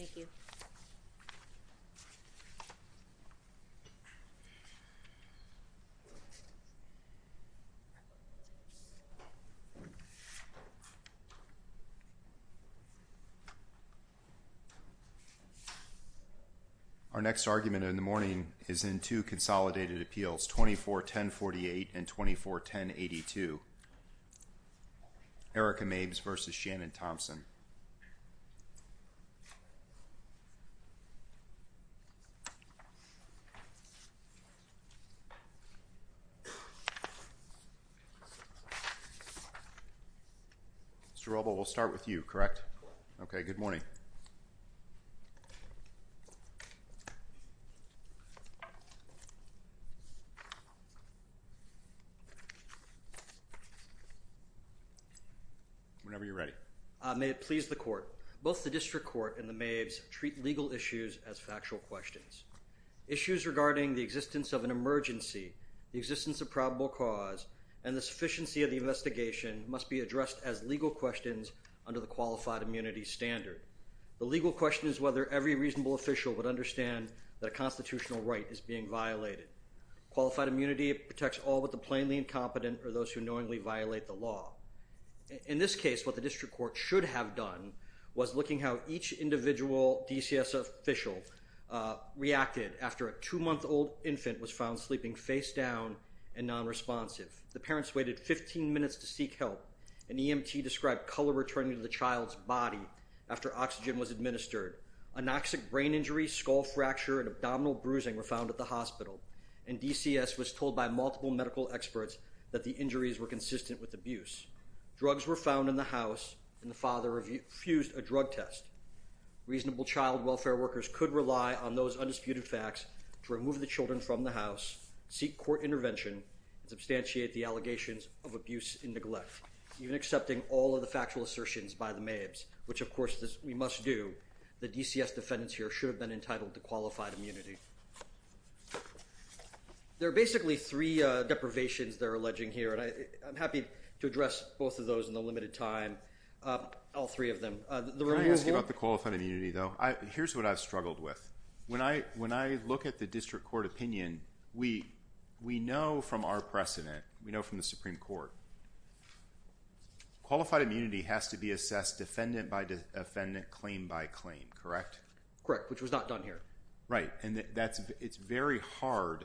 Thank you. Our next argument in the morning is in two consolidated appeals, 24-1048 and 24-1082. Erika Mabes v. Shannon Thompson. Mr. Rubel, we'll start with you, correct? Okay, good morning. Whenever you're ready. May it please the Court, both the District Court and the Mabes treat legal issues as factual questions. Issues regarding the existence of an emergency, the existence of probable cause, and the sufficiency of the investigation must be addressed as legal questions under the Qualified Immunity Standard. The legal question is whether every reasonable official would understand that a constitutional right is being violated. Qualified immunity protects all but the plainly incompetent or those who knowingly violate the law. In this case, what the District Court should have done was looking how each individual DCS official reacted after a two-month-old infant was found sleeping face down and nonresponsive. The parents waited 15 minutes to seek help. An EMT described color returning to the child's body after oxygen was administered. Anoxic brain injury, skull fracture, and abdominal bruising were found at the hospital. And DCS was told by multiple medical experts that the injuries were consistent with abuse. Drugs were found in the house, and the father refused a drug test. Reasonable child welfare workers could rely on those undisputed facts to remove the children from the house, seek court intervention, and substantiate the allegations of abuse and neglect, even accepting all of the factual assertions by the Mabes, which, of course, we must do. The DCS defendants here should have been entitled to qualified immunity. There are basically three deprivations they're alleging here, and I'm happy to address both of those in the limited time, all three of them. Can I ask you about the qualified immunity, though? Here's what I've struggled with. When I look at the District Court opinion, we know from our precedent, we know from the Supreme Court, qualified immunity has to be assessed defendant by defendant, claim by claim, correct? Correct, which was not done here. Right, and it's very hard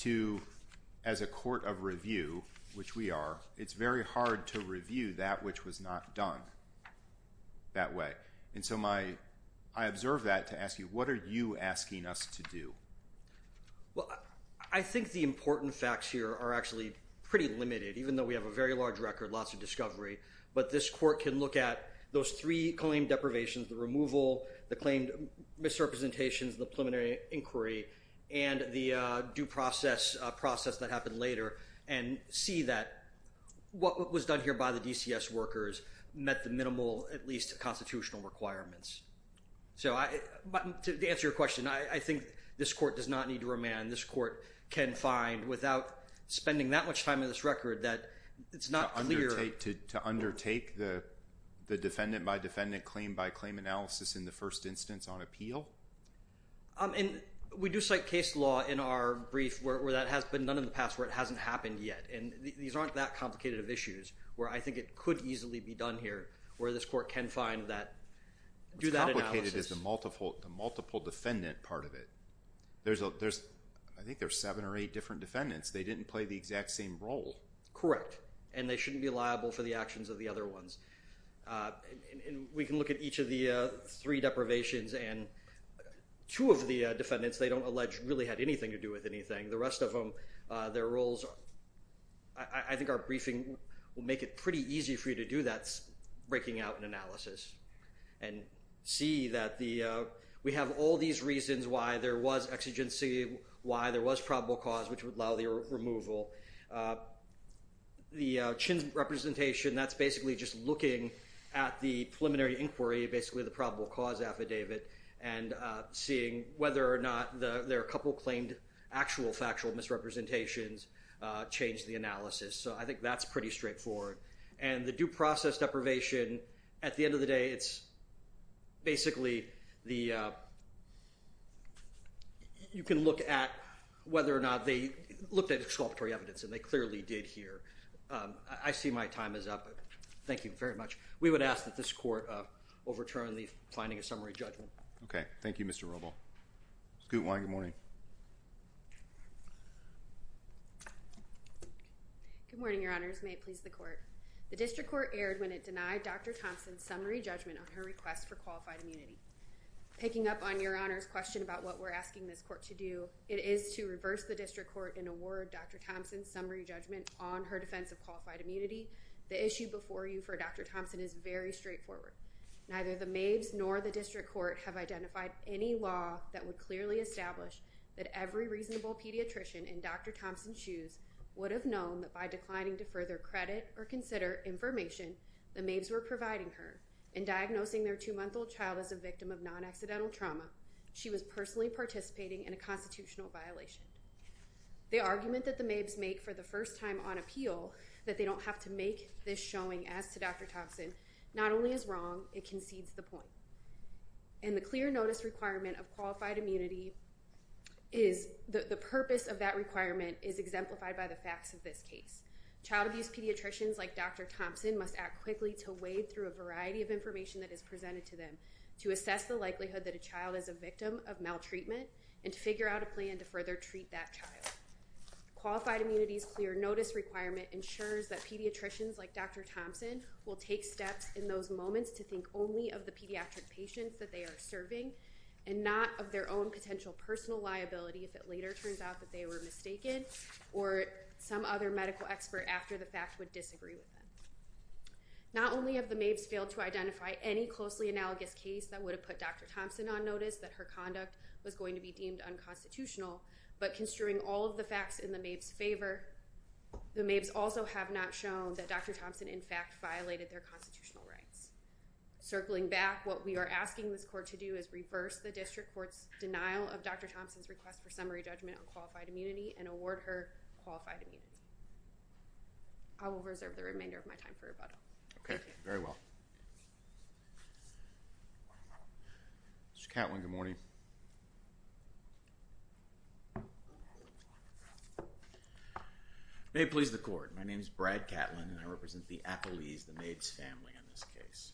to, as a court of review, which we are, it's very hard to review that which was not done that way. And so I observe that to ask you, what are you asking us to do? Well, I think the important facts here are actually pretty limited, even though we have a very large record, lots of discovery. But this court can look at those three claimed deprivations, the removal, the claimed misrepresentations, the preliminary inquiry, and the due process that happened later, and see that what was done here by the DCS workers met the minimal, at least, constitutional requirements. So to answer your question, I think this court does not need to remand. This court can find, without spending that much time in this record, that it's not clear. To undertake the defendant by defendant, claim by claim analysis in the first instance on appeal? And we do cite case law in our brief where that has been done in the past where it hasn't happened yet. And these aren't that complicated of issues where I think it could easily be done here, where this court can find that, do that analysis. What's complicated is the multiple defendant part of it. There's, I think there's seven or eight different defendants. They didn't play the exact same role. Correct. And they shouldn't be liable for the actions of the other ones. And we can look at each of the three deprivations, and two of the defendants they don't allege really had anything to do with anything. The rest of them, their roles, I think our briefing will make it pretty easy for you to do that. That's breaking out an analysis and see that we have all these reasons why there was exigency, why there was probable cause, which would allow the removal. The Chin's representation, that's basically just looking at the preliminary inquiry, basically the probable cause affidavit, and seeing whether or not their couple claimed actual factual misrepresentations changed the analysis. So I think that's pretty straightforward. And the due process deprivation, at the end of the day, it's basically the, you can look at whether or not they looked at exculpatory evidence, and they clearly did here. I see my time is up. Thank you very much. We would ask that this court overturn the finding of summary judgment. Okay. Thank you, Mr. Rubel. Scoot Wine, good morning. Good morning, Your Honors. May it please the court. The district court erred when it denied Dr. Thompson's summary judgment on her request for qualified immunity. Picking up on Your Honor's question about what we're asking this court to do, it is to reverse the district court and award Dr. Thompson's summary judgment on her defense of qualified immunity. The issue before you for Dr. Thompson is very straightforward. Neither the maids nor the district court have identified any law that would clearly establish that every reasonable pediatrician in Dr. Thompson's shoes would have known that by declining to further credit or consider information the maids were providing her in diagnosing their two-month-old child as a victim of non-accidental trauma, she was personally participating in a constitutional violation. The argument that the maids make for the first time on appeal, that they don't have to make this showing as to Dr. Thompson, not only is wrong, it concedes the point. And the clear notice requirement of qualified immunity is the purpose of that requirement is exemplified by the facts of this case. Child abuse pediatricians like Dr. Thompson must act quickly to wade through a variety of information that is presented to them to assess the likelihood that a child is a victim of maltreatment and to figure out a plan to further treat that child. Qualified immunity's clear notice requirement ensures that pediatricians like Dr. Thompson will take steps in those moments to think only of the pediatric patients that they are serving and not of their own potential personal liability if it later turns out that they were mistaken or some other medical expert after the fact would disagree with them. Not only have the maids failed to identify any closely analogous case that would have put Dr. Thompson on notice that her conduct was going to be deemed unconstitutional, but construing all of the facts in the maids' favor, the maids also have not shown that Dr. Thompson in fact violated their constitutional rights. Circling back, what we are asking this court to do is reverse the district court's denial of Dr. Thompson's request for summary judgment on qualified immunity and award her qualified immunity. I will reserve the remainder of my time for rebuttal. Okay, very well. Mr. Catlin, good morning. May it please the court. My name is Brad Catlin and I represent the Appellees, the maids' family in this case.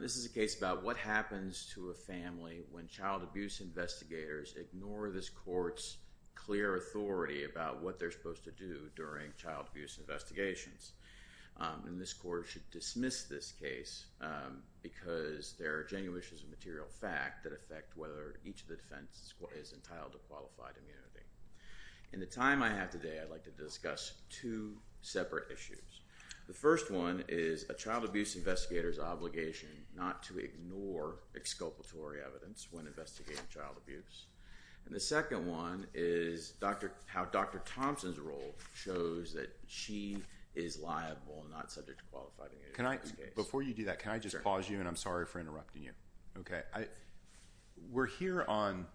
This is a case about what happens to a family when child abuse investigators ignore this court's clear authority about what they're supposed to do during child abuse investigations. And this court should dismiss this case because there are genuine issues of material fact that affect whether each of the defense is entitled to qualified immunity. In the time I have today, I'd like to discuss two separate issues. The first one is a child abuse investigator's obligation not to ignore exculpatory evidence when investigating child abuse. And the second one is how Dr. Thompson's role shows that she is liable and not subject to qualified immunity. Before you do that, can I just pause you and I'm sorry for interrupting you. We're here on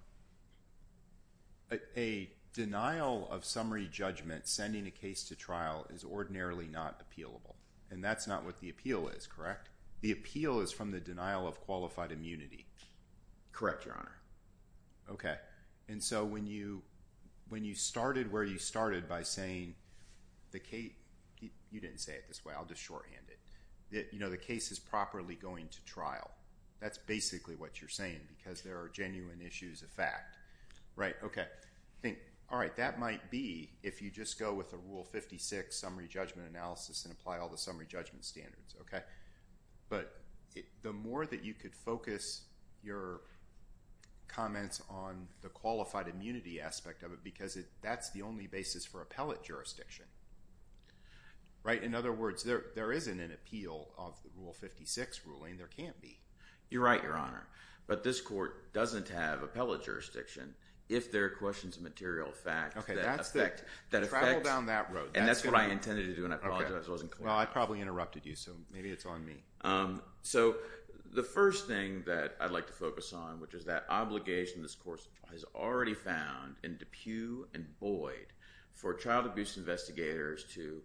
a denial of summary judgment sending a case to trial is ordinarily not appealable. And that's not what the appeal is, correct? The appeal is from the denial of qualified immunity. Correct, Your Honor. Okay. And so when you started where you started by saying, you didn't say it this way, I'll just shorthand it. You know, the case is properly going to trial. That's basically what you're saying because there are genuine issues of fact. Right, okay. Think, all right, that might be if you just go with a Rule 56 summary judgment analysis and apply all the summary judgment standards. But the more that you could focus your comments on the qualified immunity aspect of it because that's the only basis for appellate jurisdiction, right? In other words, there isn't an appeal of the Rule 56 ruling. There can't be. You're right, Your Honor. But this court doesn't have appellate jurisdiction if there are questions of material fact that affect. Travel down that road. And that's what I intended to do and I apologize. Well, I probably interrupted you, so maybe it's on me. So the first thing that I'd like to focus on, which is that obligation this court has already found in DePue and Boyd for child abuse investigators to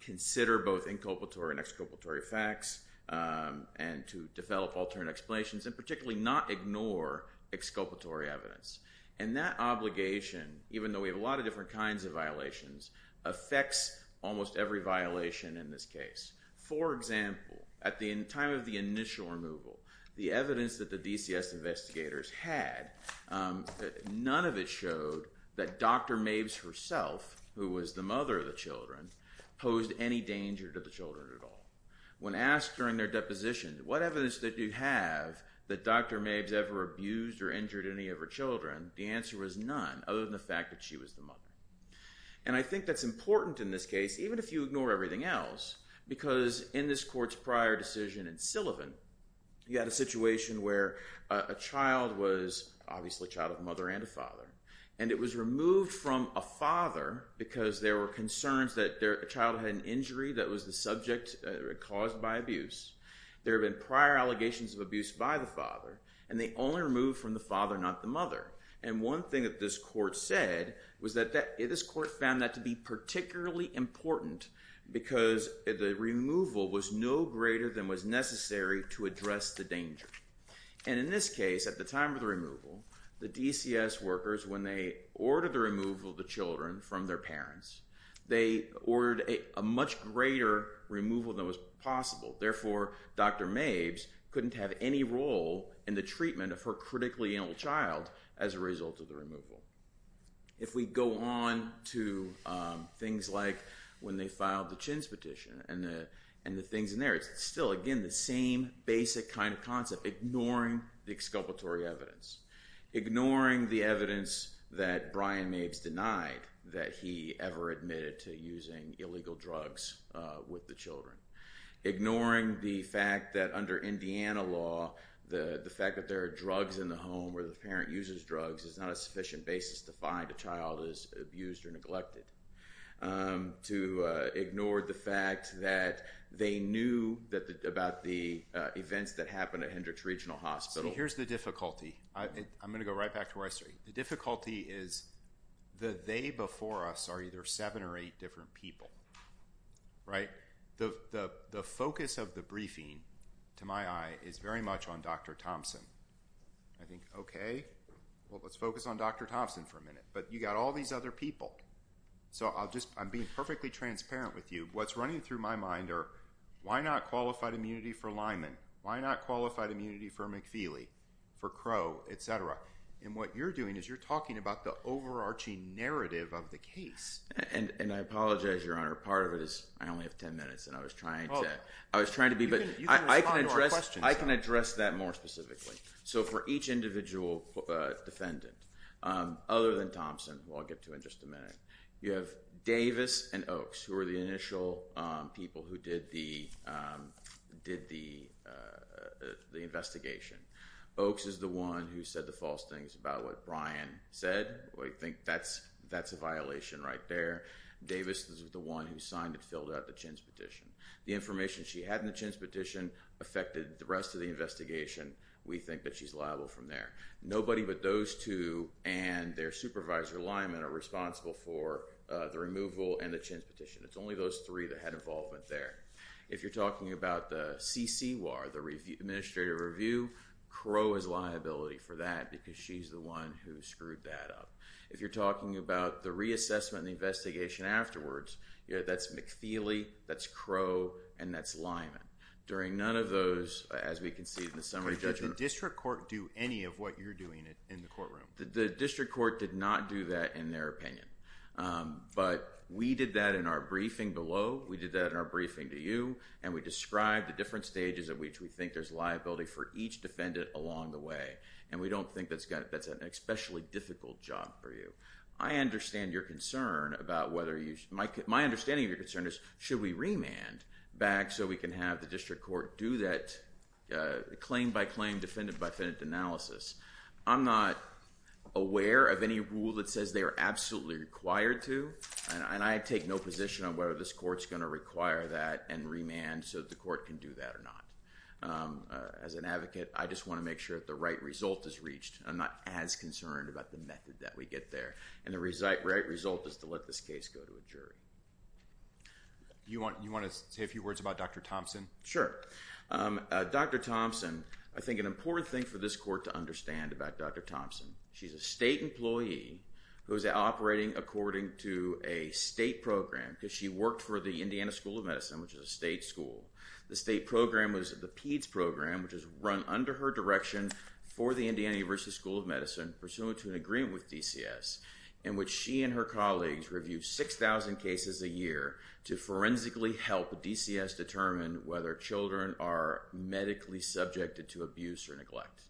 consider both inculpatory and exculpatory facts and to develop alternate explanations and particularly not ignore exculpatory evidence. And that obligation, even though we have a lot of different kinds of violations, affects almost every violation in this case. For example, at the time of the initial removal, the evidence that the DCS investigators had, none of it showed that Dr. Mabes herself, who was the mother of the children, posed any danger to the children at all. When asked during their deposition, what evidence did you have that Dr. Mabes ever abused or injured any of her children, the answer was none other than the fact that she was the mother. And I think that's important in this case, even if you ignore everything else, because in this court's prior decision in Sullivan, you had a situation where a child was obviously a child of a mother and a father. And it was removed from a father because there were concerns that the child had an injury that was the subject caused by abuse. There have been prior allegations of abuse by the father, and they only removed from the father, not the mother. And one thing that this court said was that this court found that to be particularly important because the removal was no greater than was necessary to address the danger. And in this case, at the time of the removal, the DCS workers, when they ordered the removal of the children from their parents, they ordered a much greater removal than was possible. Therefore, Dr. Mabes couldn't have any role in the treatment of her critically ill child as a result of the removal. If we go on to things like when they filed the Chins petition and the things in there, it's still again the same basic kind of concept, ignoring the exculpatory evidence. Ignoring the evidence that Brian Mabes denied that he ever admitted to using illegal drugs with the children. Ignoring the fact that under Indiana law, the fact that there are drugs in the home where the parent uses drugs is not a sufficient basis to find a child is abused or neglected. To ignore the fact that they knew about the events that happened at Hendricks Regional Hospital. So here's the difficulty. I'm going to go right back to where I started. The difficulty is the they before us are either seven or eight different people, right? The focus of the briefing, to my eye, is very much on Dr. Thompson. I think, okay, well, let's focus on Dr. Thompson for a minute. But you've got all these other people. So I'm being perfectly transparent with you. What's running through my mind are why not qualified immunity for Lyman? Why not qualified immunity for McFeely, for Crow, et cetera? And what you're doing is you're talking about the overarching narrative of the case. And I apologize, Your Honor. Part of it is I only have ten minutes. And I was trying to be but I can address that more specifically. So for each individual defendant, other than Thompson, who I'll get to in just a minute, you have Davis and Oaks who are the initial people who did the investigation. Oaks is the one who said the false things about what Brian said. We think that's a violation right there. Davis is the one who signed and filled out the Chins petition. The information she had in the Chins petition affected the rest of the investigation. We think that she's liable from there. Nobody but those two and their supervisor, Lyman, are responsible for the removal and the Chins petition. It's only those three that had involvement there. If you're talking about the CCWAR, the administrative review, Crow is liability for that because she's the one who screwed that up. If you're talking about the reassessment and the investigation afterwards, that's McFeely, that's Crow, and that's Lyman. During none of those, as we can see from the summary judgment. Did the district court do any of what you're doing in the courtroom? The district court did not do that in their opinion. But we did that in our briefing below. We did that in our briefing to you. And we described the different stages at which we think there's liability for each defendant along the way. And we don't think that's an especially difficult job for you. I understand your concern about whether you should—my understanding of your concern is should we remand back so we can have the district court do that claim-by-claim, defendant-by-defendant analysis. I'm not aware of any rule that says they are absolutely required to. And I take no position on whether this court's going to require that and remand so the court can do that or not. As an advocate, I just want to make sure that the right result is reached. I'm not as concerned about the method that we get there. And the right result is to let this case go to a jury. Do you want to say a few words about Dr. Thompson? Sure. Dr. Thompson, I think an important thing for this court to understand about Dr. Thompson, she's a state employee who's operating according to a state program because she worked for the Indiana School of Medicine, which is a state school. The state program was the PEDS program, which is run under her direction for the Indiana University School of Medicine pursuant to an agreement with DCS in which she and her colleagues review 6,000 cases a year to forensically help DCS determine whether children are medically subjected to abuse or neglect.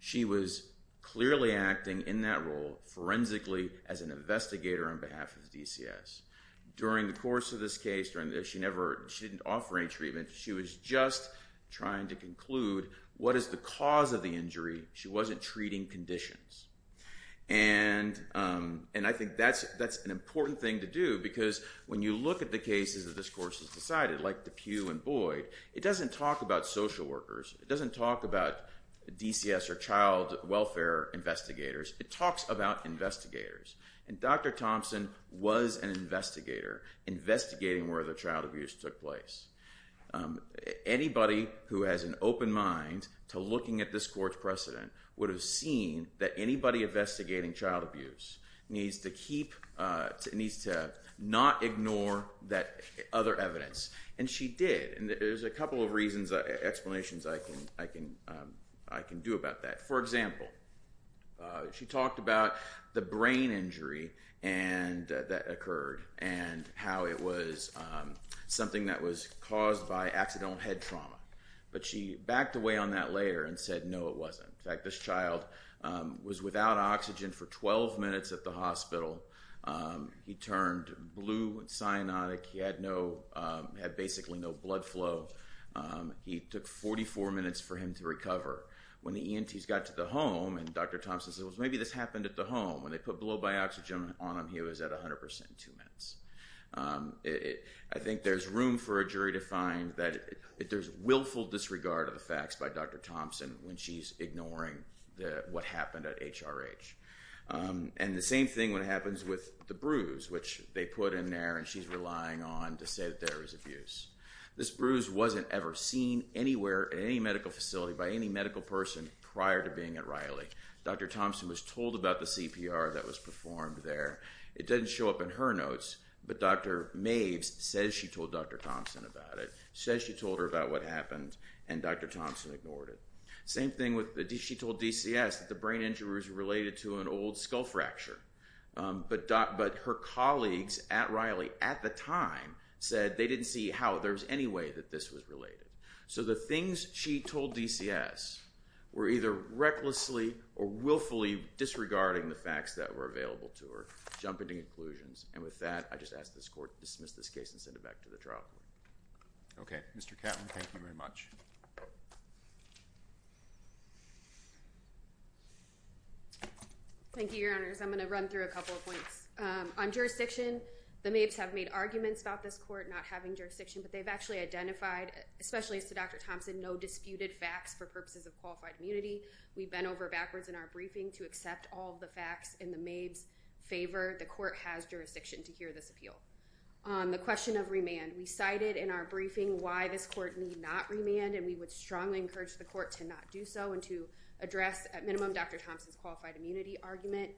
She was clearly acting in that role forensically as an investigator on behalf of DCS. During the course of this case, she didn't offer any treatment. She was just trying to conclude what is the cause of the injury. She wasn't treating conditions. And I think that's an important thing to do because when you look at the cases that this court has decided, like DePue and Boyd, it doesn't talk about social workers. It doesn't talk about DCS or child welfare investigators. It talks about investigators. And Dr. Thompson was an investigator investigating where the child abuse took place. Anybody who has an open mind to looking at this court's precedent would have seen that anybody investigating child abuse needs to not ignore that other evidence. And she did. And there's a couple of reasons, explanations I can do about that. For example, she talked about the brain injury that occurred and how it was something that was caused by accidental head trauma. But she backed away on that later and said, no, it wasn't. In fact, this child was without oxygen for 12 minutes at the hospital. He turned blue and cyanotic. He had basically no blood flow. He took 44 minutes for him to recover. When the ENTs got to the home, and Dr. Thompson said, well, maybe this happened at the home, when they put blow-by-oxygen on him, he was at 100% in two minutes. I think there's room for a jury to find that there's willful disregard of the facts by Dr. Thompson when she's ignoring what happened at HRH. And the same thing when it happens with the bruise, which they put in there and she's relying on to say that there was abuse. This bruise wasn't ever seen anywhere in any medical facility by any medical person prior to being at Riley. Dr. Thompson was told about the CPR that was performed there. It doesn't show up in her notes, but Dr. Maves says she told Dr. Thompson about it, Same thing with she told DCS that the brain injury was related to an old skull fracture. But her colleagues at Riley at the time said they didn't see how there was any way that this was related. So the things she told DCS were either recklessly or willfully disregarding the facts that were available to her, jumping to conclusions. And with that, I just ask this court to dismiss this case and send it back to the trial court. Okay, Mr. Catlin, thank you very much. Thank you, Your Honors. I'm going to run through a couple of points. On jurisdiction, the Maves have made arguments about this court not having jurisdiction, but they've actually identified, especially as to Dr. Thompson, no disputed facts for purposes of qualified immunity. We've been over backwards in our briefing to accept all the facts in the Maves' favor. The court has jurisdiction to hear this appeal. On the question of remand, we cited in our briefing why this court need not remand, and we would strongly encourage the court to not do so and to address, at minimum, Dr. Thompson's qualified immunity argument.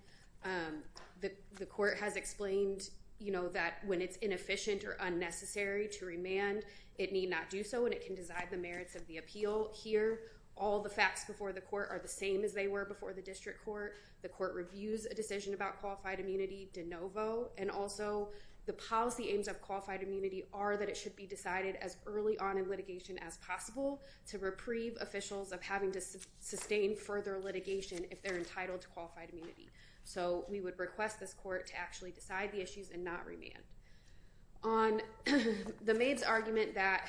The court has explained, you know, that when it's inefficient or unnecessary to remand, it need not do so, and it can decide the merits of the appeal here. All the facts before the court are the same as they were before the district court. The court reviews a decision about qualified immunity de novo. And also, the policy aims of qualified immunity are that it should be decided as early on in litigation as possible to reprieve officials of having to sustain further litigation if they're entitled to qualified immunity. So we would request this court to actually decide the issues and not remand. On the Maves' argument that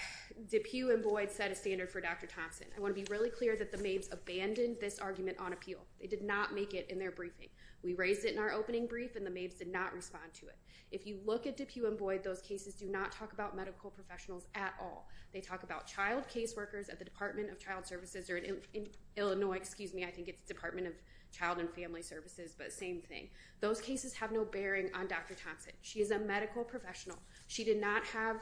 DePue and Boyd set a standard for Dr. Thompson, I want to be really clear that the Maves abandoned this argument on appeal. They did not make it in their briefing. We raised it in our opening brief, and the Maves did not respond to it. If you look at DePue and Boyd, those cases do not talk about medical professionals at all. They talk about child caseworkers at the Department of Child Services or in Illinois, excuse me, I think it's Department of Child and Family Services, but same thing. Those cases have no bearing on Dr. Thompson. She is a medical professional. She did not have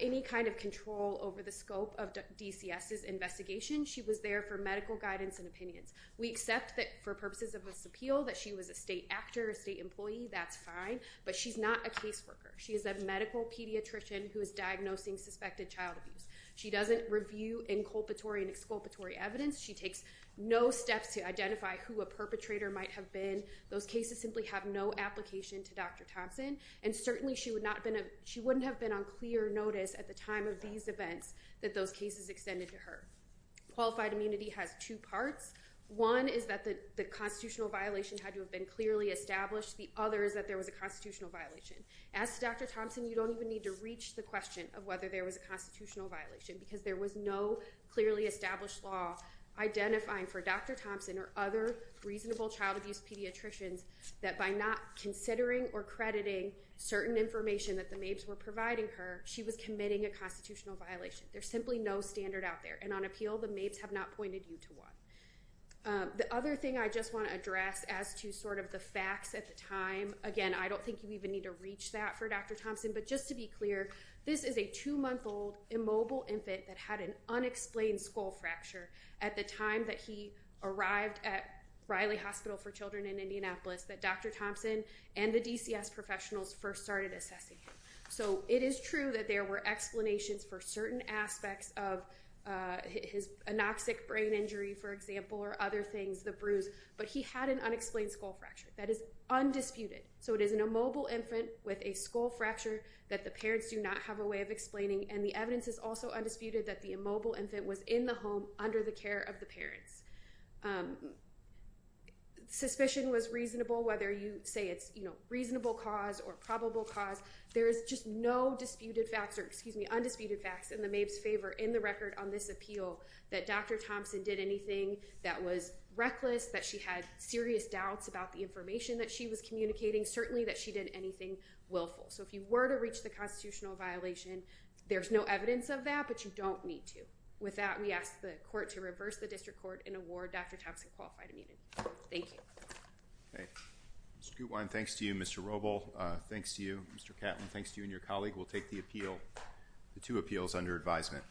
any kind of control over the scope of DCS's investigation. She was there for medical guidance and opinions. We accept that for purposes of this appeal that she was a state actor, a state employee, that's fine, but she's not a caseworker. She is a medical pediatrician who is diagnosing suspected child abuse. She doesn't review inculpatory and exculpatory evidence. She takes no steps to identify who a perpetrator might have been. Those cases simply have no application to Dr. Thompson, and certainly she wouldn't have been on clear notice at the time of these events that those cases extended to her. Qualified immunity has two parts. One is that the constitutional violation had to have been clearly established. The other is that there was a constitutional violation. As to Dr. Thompson, you don't even need to reach the question of whether there was a constitutional violation because there was no clearly established law identifying for Dr. Thompson or other reasonable child abuse pediatricians that by not considering or crediting certain information that the maids were providing her, she was committing a constitutional violation. There's simply no standard out there, and on appeal, the maids have not pointed you to one. The other thing I just want to address as to sort of the facts at the time, again, I don't think you even need to reach that for Dr. Thompson, but just to be clear, this is a 2-month-old immobile infant that had an unexplained skull fracture at the time that he arrived at Riley Hospital for Children in Indianapolis that Dr. Thompson and the DCS professionals first started assessing him. So it is true that there were explanations for certain aspects of his anoxic brain injury, for example, or other things, the bruise, but he had an unexplained skull fracture. That is undisputed. So it is an immobile infant with a skull fracture that the parents do not have a way of explaining, and the evidence is also undisputed that the immobile infant was in the home under the care of the parents. Suspicion was reasonable, whether you say it's reasonable cause or probable cause. There is just no disputed facts or, excuse me, undisputed facts in the MABE's favor in the record on this appeal that Dr. Thompson did anything that was reckless, that she had serious doubts about the information that she was communicating, certainly that she did anything willful. So if you were to reach the constitutional violation, there's no evidence of that, but you don't need to. With that, we ask the court to reverse the district court and award Dr. Thompson qualified immunity. Thank you. Mr. Gutwein, thanks to you. Mr. Robel, thanks to you. Mr. Catlin, thanks to you and your colleague. We'll take the two appeals under advisement.